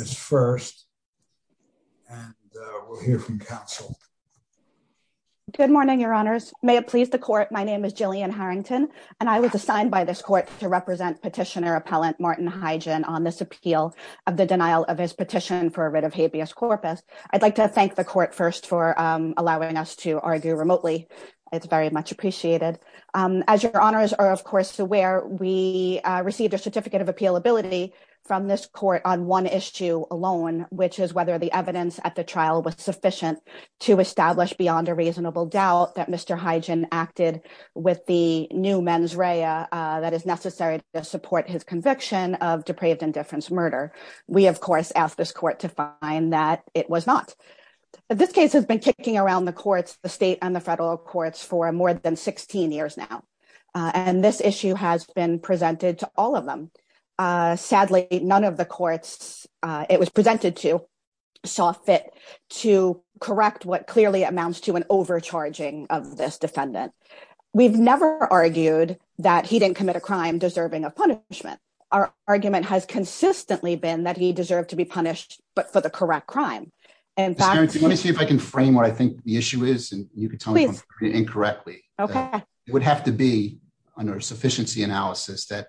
is first, and we'll hear from counsel. Good morning, your honors. May it please the court, my name is Jillian Harrington, and I was assigned by this court to represent petitioner appellant Martin Heidgen on this appeal of the denial of his petition for a writ of habeas corpus. I'd like to thank the As your honors are of course aware, we received a certificate of appealability from this court on one issue alone, which is whether the evidence at the trial was sufficient to establish beyond a reasonable doubt that Mr. Heidgen acted with the new mens rea that is necessary to support his conviction of depraved indifference murder. We of course asked this court to find that it was not. This case has been kicking around the courts, the state and the federal courts for more than 16 years now, and this issue has been presented to all of them. Sadly, none of the courts it was presented to saw fit to correct what clearly amounts to an overcharging of this defendant. We've never argued that he didn't commit a crime deserving of punishment. Our argument has consistently been that he deserved to be punished, but for the correct crime. And let me see if I can frame what I think the issue is. And you could tell me incorrectly, okay, it would have to be under sufficiency analysis that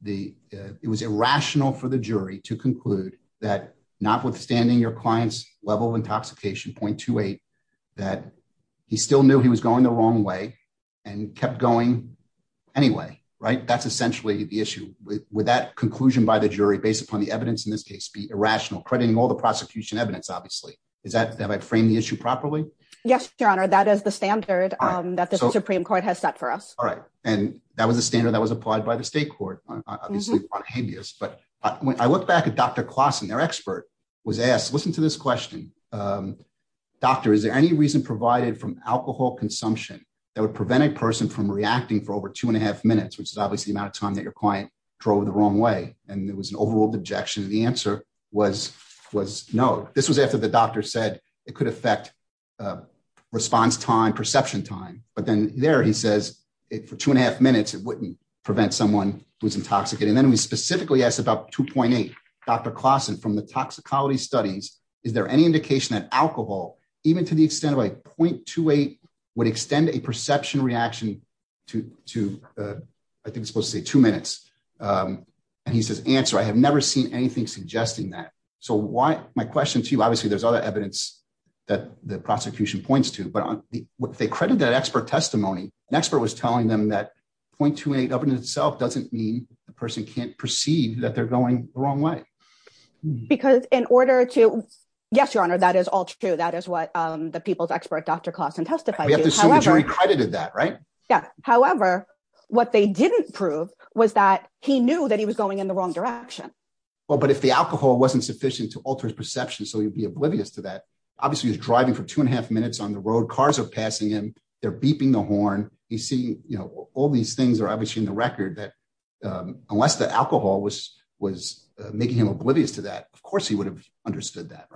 the it was irrational for the jury to conclude that notwithstanding your clients level of intoxication point to eight, that he still knew he was going the wrong way and kept going anyway, right? That's essentially the issue with that conclusion by the jury based upon the evidence in this case be irrational, crediting all the prosecution evidence, obviously, is that have I framed the issue properly? Yes, Your Honor, that is the standard that the Supreme Court has set for us. All right. And that was a standard that was applied by the state court, obviously, on habeas. But when I look back at Dr. Klassen, their expert was asked, listen to this question. Doctor, is there any reason provided from alcohol consumption that would prevent a person from reacting for over two and a half minutes, which is obviously the amount of time that your client drove the wrong way? And it was an overruled objection. And the answer was, was no. This was after the doctor said it could affect response time, perception time. But then there he says it for two and a half minutes, it wouldn't prevent someone who's intoxicated. And then we specifically asked about 2.8. Dr. Klassen from the toxicology studies, is there any indication that alcohol, even to the extent of like 0.28 would extend a perception reaction to, I think it's supposed to say two minutes. And he says, answer, I have never seen anything suggesting that. So why, my question to you, obviously there's other evidence that the prosecution points to, but what they credit that expert testimony, an expert was telling them that 0.28 up in itself doesn't mean the person can't perceive that they're going the wrong way. Because in order to, yes, Your Honor, that is all true. That is what the people's expert, Dr. Klassen testified to. However, what they didn't prove was that he knew that he was going in the wrong direction. Well, but if the alcohol wasn't sufficient to alter his perception, so he'd be oblivious to that. Obviously he was driving for two and a half minutes on the road, cars are passing him. They're beeping the horn. He's seeing, all these things are obviously in the record that unless the alcohol was making him oblivious to that, of course he would have understood that.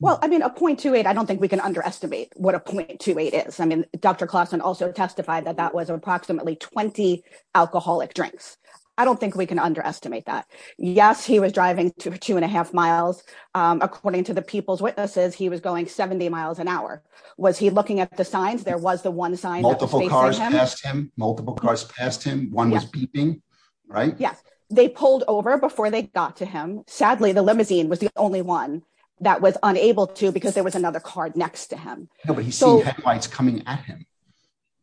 Well, I mean, a 0.28, I don't think we can underestimate what a 0.28 is. I mean, Dr. Klassen also testified that that was approximately 20 alcoholic drinks. I don't think we can underestimate that. Yes, he was driving to two and a half miles. According to the people's witnesses, he was going 70 miles an hour. Was he looking at the signs? There was the one sign- Multiple cars passed him, multiple cars passed him. One was beeping, right? Yes. They pulled over before they got to him. Sadly, the limousine was the only one that was unable to because there was another car next to him. No, but he's seeing headlights coming at him,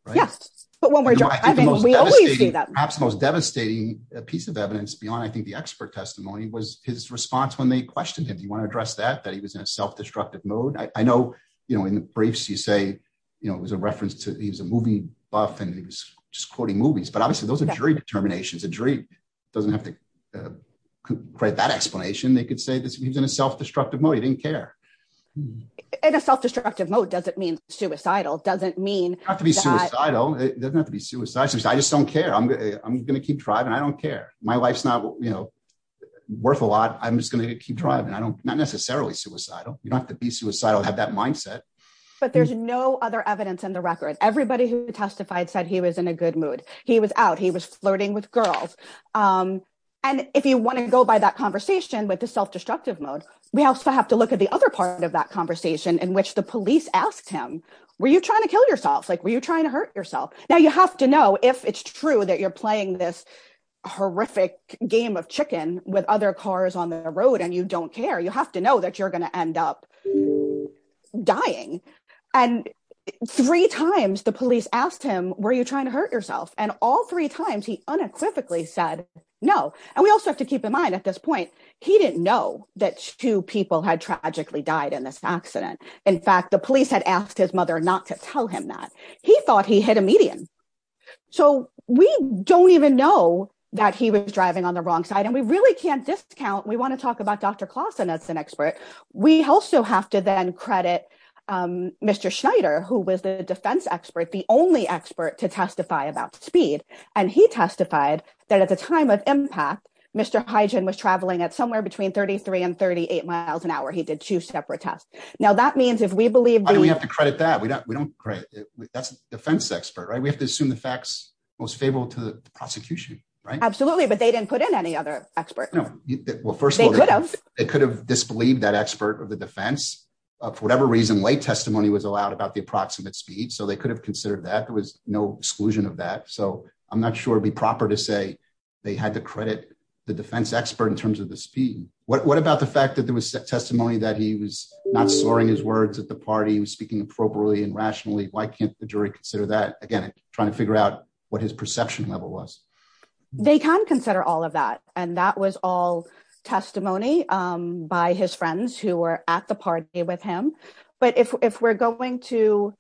right? Yes, but when we're driving, we always do that. Perhaps the most devastating piece of evidence beyond, I think, the expert testimony was his response when they questioned him. Do you want to address that, that he was in a self-destructive mode? I know in the briefs you say it was a reference to he was a movie buff and he was just quoting movies, but obviously those are jury determinations. A jury doesn't have to create that explanation. They could say he was in a self-destructive mode. He didn't care. In a self-destructive mode doesn't mean suicidal, doesn't mean- It doesn't have to be suicidal. It doesn't have to be suicidal. I just don't care. I'm going to keep driving. I don't care. My life's not worth a lot. I'm just going to keep driving. I don't, not necessarily suicidal. You don't have to be suicidal to have that mindset. But there's no other evidence in the record. Everybody who testified said he was in a good with the self-destructive mode. We also have to look at the other part of that conversation in which the police asked him, were you trying to kill yourself? Like, were you trying to hurt yourself? Now you have to know if it's true that you're playing this horrific game of chicken with other cars on the road and you don't care. You have to know that you're going to end up dying. And three times the police asked him, were you trying to hurt yourself? And all three times he unequivocally said no. And we also have to keep in mind at this point, he didn't know that two people had tragically died in this accident. In fact, the police had asked his mother not to tell him that. He thought he hit a median. So we don't even know that he was driving on the wrong side and we really can't discount. We want to talk about Dr. Clausen as an expert. We also have to then credit Mr. Schneider, who was the defense expert, the only expert to testify about speed. And he testified that at the time of impact, Mr. Hygen was traveling at somewhere between 33 and 38 miles an hour. He did two separate tests. Now that means if we believe- Why do we have to credit that? That's the defense expert, right? We have to assume the facts most favorable to the prosecution, right? Absolutely. But they didn't put in any other expert. Well, first of all, they could have disbelieved that expert of the defense. For whatever reason, late testimony was allowed about the approximate speed. So they could have I'm not sure it'd be proper to say they had to credit the defense expert in terms of the speed. What about the fact that there was testimony that he was not slurring his words at the party? He was speaking appropriately and rationally. Why can't the jury consider that? Again, trying to figure out what his perception level was. They can consider all of that. And that was all testimony by his friends who were at the party with him. But if we're going to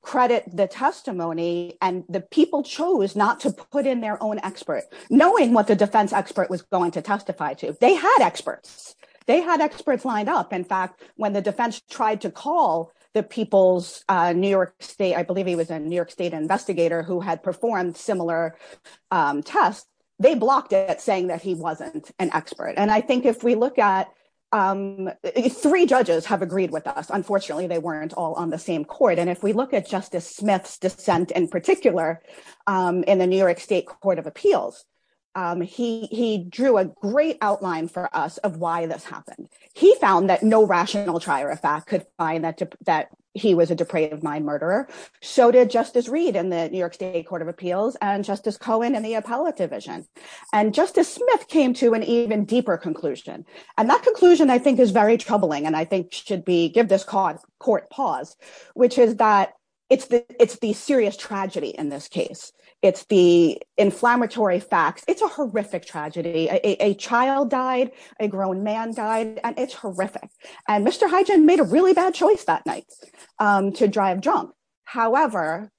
credit the testimony and the people chose not to put in their own expert, knowing what the defense expert was going to testify to, they had experts. They had experts lined up. In fact, when the defense tried to call the people's New York state, I believe he was a New York state investigator who had performed similar tests, they blocked it saying that he wasn't an expert. And I think if we look at three judges have agreed with us, unfortunately, they weren't all on the same court. And if we look at Justice Smith's dissent in particular, in the New York State Court of Appeals, he drew a great outline for us of why this happened. He found that no rational trier of fact could find that he was a depraved mind murderer. So did Justice Reed in the New York State Court of Appeals and Justice Cohen and the appellate division. And Justice Smith came to an conclusion I think is very troubling and I think should be give this cause court pause, which is that it's the it's the serious tragedy in this case. It's the inflammatory facts. It's a horrific tragedy. A child died, a grown man died, and it's horrific. And Mr. Hygen made a really bad choice that night to drive drunk. However,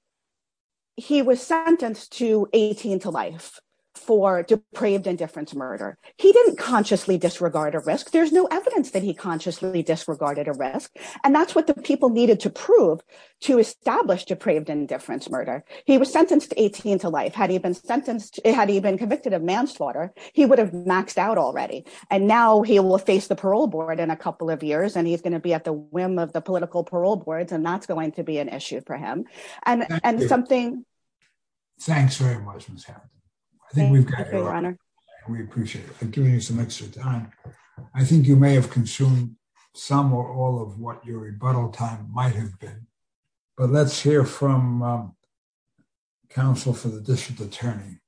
he was sentenced to 18 to life for depraved indifference murder. He didn't consciously disregard a risk. There's no evidence that he consciously disregarded a risk. And that's what the people needed to prove to establish depraved indifference murder. He was sentenced to 18 to life. Had he been sentenced, had he been convicted of manslaughter, he would have maxed out already. And now he will face the parole board in a couple of years, and he's going to be at the whim of the political parole boards and that's going to be an issue for and something. Thanks very much, Ms. Hampton. I think we've got your honor. We appreciate it. I think you may have consumed some or all of what your rebuttal time might have been. But let's hear from counsel for the district attorney.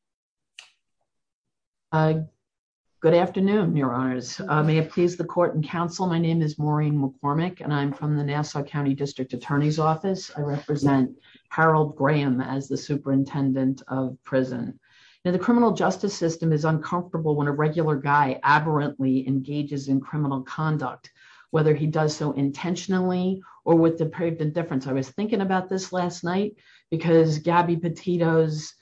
Good afternoon, your honors. May it please the court and counsel. My name is Maureen McCormick, and I'm from the Nassau County District Attorney's Office. I represent Harold Graham as the superintendent of prison. Now, the criminal justice system is uncomfortable when a regular guy aberrantly engages in criminal conduct, whether he does so intentionally or with depraved indifference. I was thinking about this last night because Gabby Petito's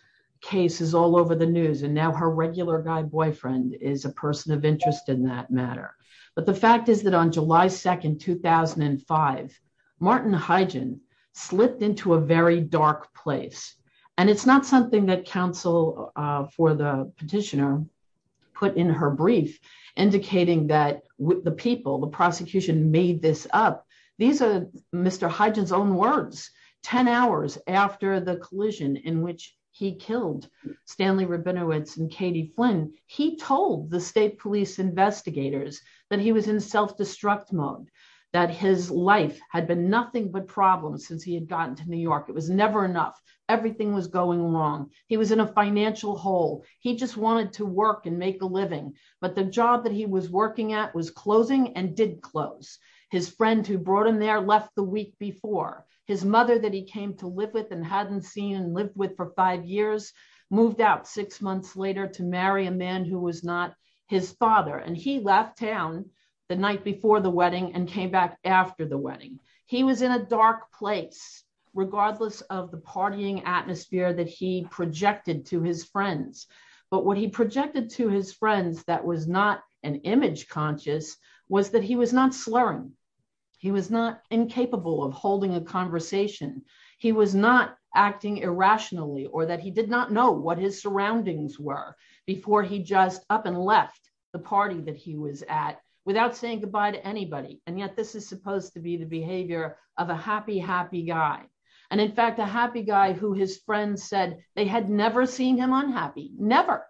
case is all over the news, and now her regular guy boyfriend is a person of interest in that matter. But the fact is that on July 2, 2005, Martin Hygen slipped into a very dark place. And it's not something that counsel for the petitioner put in her brief, indicating that the people, the prosecution made this up. These are Mr. Hygen's own words. Ten hours after the collision in which he killed Stanley Rabinowitz and Katie Flynn, he told the state police investigators that he was in self-destruct mode, that his life had been nothing but problems since he had gotten to New York. It was never enough. Everything was going wrong. He was in a financial hole. He just wanted to work and make a living. But the job that he was working at was closing and did close. His friend who brought him there left the week before. His mother that he came to live with and hadn't seen and lived with for five years, moved out six months later to marry a man who was not his father. And he left town the night before the wedding and came back after the wedding. He was in a dark place, regardless of the partying atmosphere that he projected to his friends. But what he projected to his friends that was not an image conscious was that he was not slurring. He was not incapable of holding a conversation. He was not acting irrationally or that he did not know what his surroundings were before he just up and left the party that he was at without saying goodbye to anybody. And yet this is supposed to be the behavior of a happy, happy guy. And in fact, a happy guy who his friends said they had never seen him unhappy, never,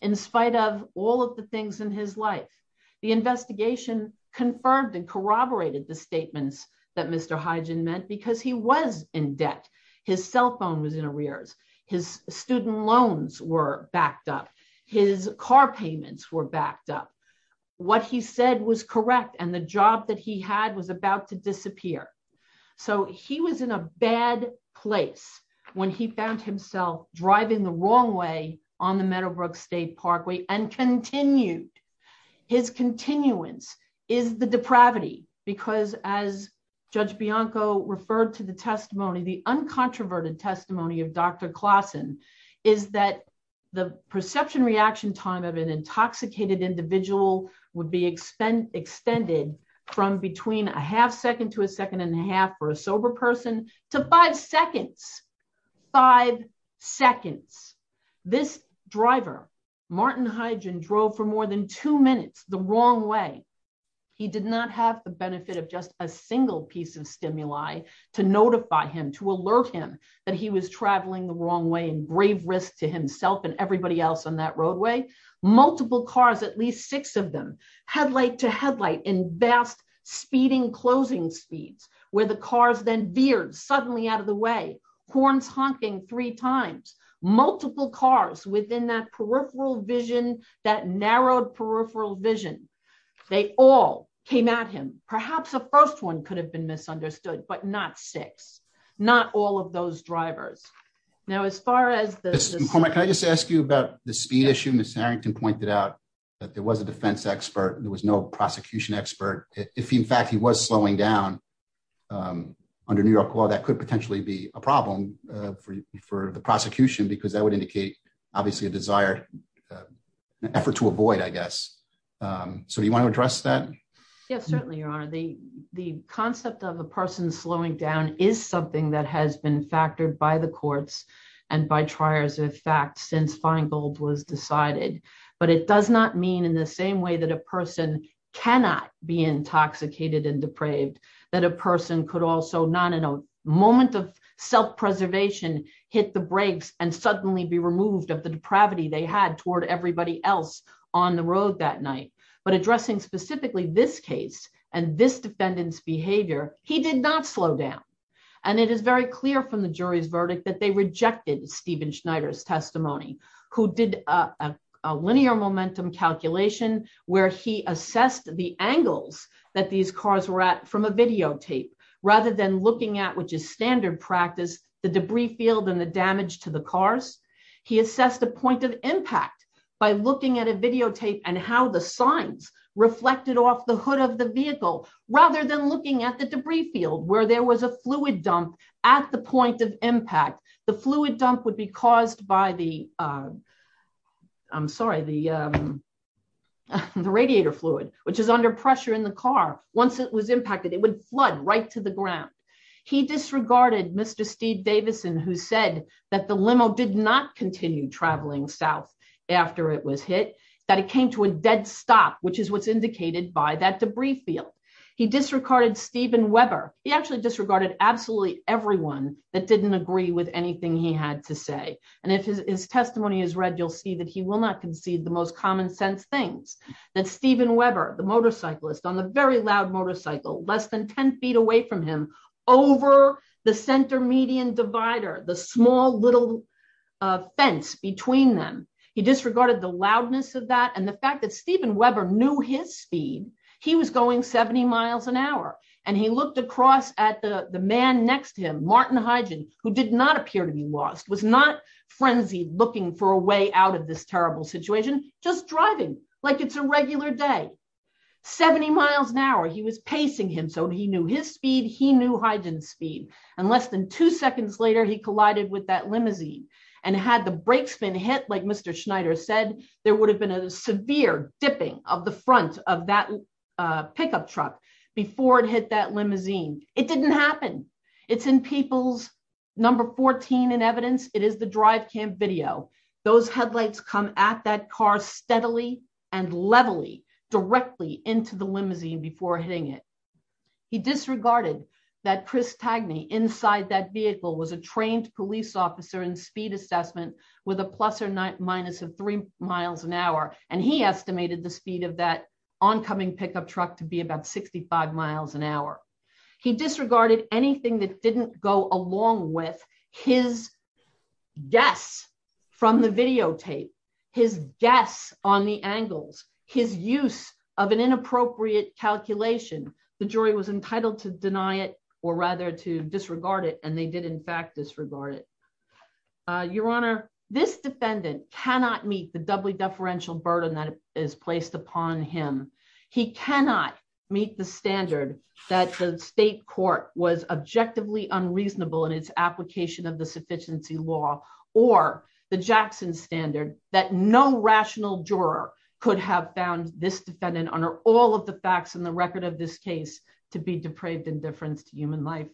in spite of all of the things in his life. The investigation confirmed and corroborated the statements that Mr. Hygen meant because he was in debt. His cell phone was in arrears. His student loans were backed up. His car payments were backed up. What he said was correct and the job that he had was about to disappear. So he was in a bad place when he found himself driving the wrong way on the Meadowbrook State Parkway and continued. His continuance is the depravity because as Judge Bianco referred to the testimony, the uncontroverted testimony of Dr. Klassen is that the perception reaction time of an intoxicated individual would be extended from between a half second to a second and a half or a sober person to five seconds, five seconds. This driver, Martin Hygen drove for more than two minutes the wrong way. He did not have the benefit of just a single piece of stimuli to notify him, to alert him that he was traveling the wrong way and grave risk to himself and everybody else on that roadway. Multiple cars, at least six of them, headlight to headlight in vast speeding closing speeds where the cars then veered suddenly out of the way. Horns honking three times. Multiple cars within that peripheral vision, that narrowed peripheral vision. They all came at him. Perhaps the first one could have been misunderstood, but not six. Not all of those drivers. Now as far as this... Mr. McCormack, can I just ask you about the speed issue? Ms. Harrington pointed out that there was a defense expert. There was no prosecution expert. If in fact he was slowing down under New York law, that could potentially be a problem for the prosecution because that would indicate obviously a desired effort to avoid, I guess. So do you want to address that? Yes, certainly, Your Honor. The concept of a person slowing down is something that has been factored by the courts and by triers of fact since Feingold was decided, but it does not mean in the same way that a person cannot be intoxicated and depraved, that a person could also not in a moment of self-preservation hit the brakes and suddenly be removed of the depravity they had toward everybody else on the road that night. But addressing specifically this case and this defendant's behavior, he did not slow down. And it is very clear from the jury's verdict that they rejected Stephen Schneider's testimony, who did a linear momentum calculation where he assessed the angles that these cars were at from a videotape rather than looking at, which is standard practice, the debris field and the damage to the cars. He assessed the point of impact by looking at a videotape and how the signs reflected off the hood of the vehicle rather than looking at the debris field where there was a dump. The fluid dump would be caused by the, I'm sorry, the radiator fluid, which is under pressure in the car. Once it was impacted, it would flood right to the ground. He disregarded Mr. Steve Davison, who said that the limo did not continue traveling south after it was hit, that it came to a dead stop, which is what's indicated by that debris field. He disregarded Stephen Weber. He actually disregarded absolutely everyone that didn't agree with anything he had to say. And if his testimony is read, you'll see that he will not concede the most common sense things that Stephen Weber, the motorcyclist on the very loud motorcycle less than 10 feet away from him over the center median divider, the small little fence between them. He disregarded the loudness of that. And the fact that Stephen Weber knew his speed, he was going 70 miles an hour. And he looked across at the man next to him, Martin Hygen, who did not appear to be lost, was not frenzied looking for a way out of this terrible situation, just driving like it's a regular day. 70 miles an hour, he was pacing him. So he knew his speed, he knew Hygen's speed. And less than two seconds later, he collided with that limousine. And had the brakes been hit, like Mr. Schneider said, there would have been a severe dipping of the front of that pickup truck before it hit that limousine. It didn't happen. It's in people's number 14 in evidence. It is the drive cam video. Those headlights come at that car steadily and levelly directly into the limousine before hitting it. He disregarded that Chris Tagney inside that vehicle was a trained police officer in speed assessment with a plus or minus of three miles an hour. And he estimated the speed of that oncoming pickup truck to be about 65 miles an hour. He disregarded anything that didn't go along with his guess from the videotape, his guess on the angles, his use of an inappropriate calculation. The jury was entitled to deny it or rather to disregard it. And they did, in fact, disregard it. Your Honor, this defendant cannot meet the deferential burden that is placed upon him. He cannot meet the standard that the state court was objectively unreasonable in its application of the sufficiency law or the Jackson standard that no rational juror could have found this defendant under all of the facts in the record of this case to be depraved indifference to human life.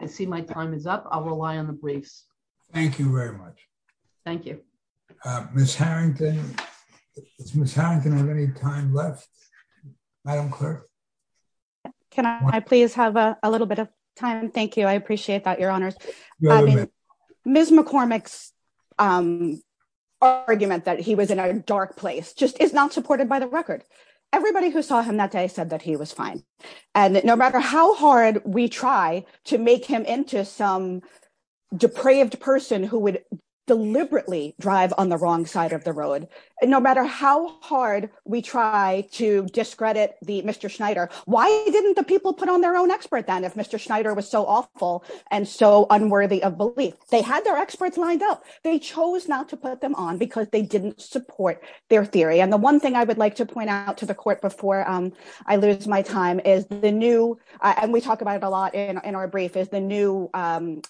I see my time is up. I'll rely on the briefs. Thank you very much. Thank you. Ms. Harrington, is Ms. Harrington have any time left? Madam Clerk? Can I please have a little bit of time? Thank you. I appreciate that, Your Honors. Ms. McCormick's argument that he was in a dark place just is not supported by the record. Everybody who saw him that day said that he was fine. And no matter how hard we try to make him some depraved person who would deliberately drive on the wrong side of the road, no matter how hard we try to discredit Mr. Schneider, why didn't the people put on their own expert then if Mr. Schneider was so awful and so unworthy of belief? They had their experts lined up. They chose not to put them on because they didn't support their theory. And the one thing I would like to point out to the court before I lose my time is the new, and we talk about it a lot in our brief, is the new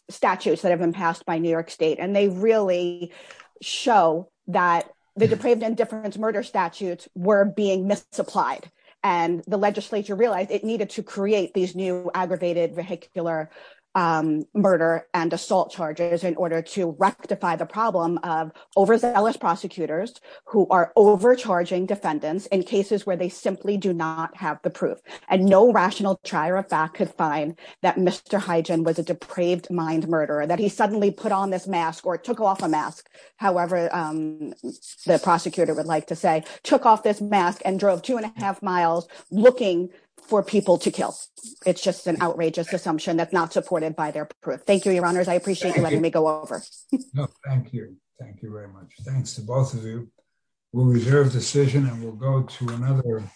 statutes that have been passed by New York State. And they really show that the depraved indifference murder statutes were being misapplied. And the legislature realized it needed to create these new aggravated vehicular murder and assault charges in order to rectify the problem of overzealous prosecutors who are overcharging defendants in cases where they simply do not have the proof. And no rational trier of fact could find that Mr. Hygen was a depraved mind murderer, that he suddenly put on this mask or took off a mask, however the prosecutor would like to say, took off this mask and drove two and a half miles looking for people to kill. It's just an outrageous assumption that's not supported by their proof. Thank you, your honors. I appreciate you letting me go over. No, thank you. Thank you very much. Thanks to both of you. We'll reserve the session and we'll go to another.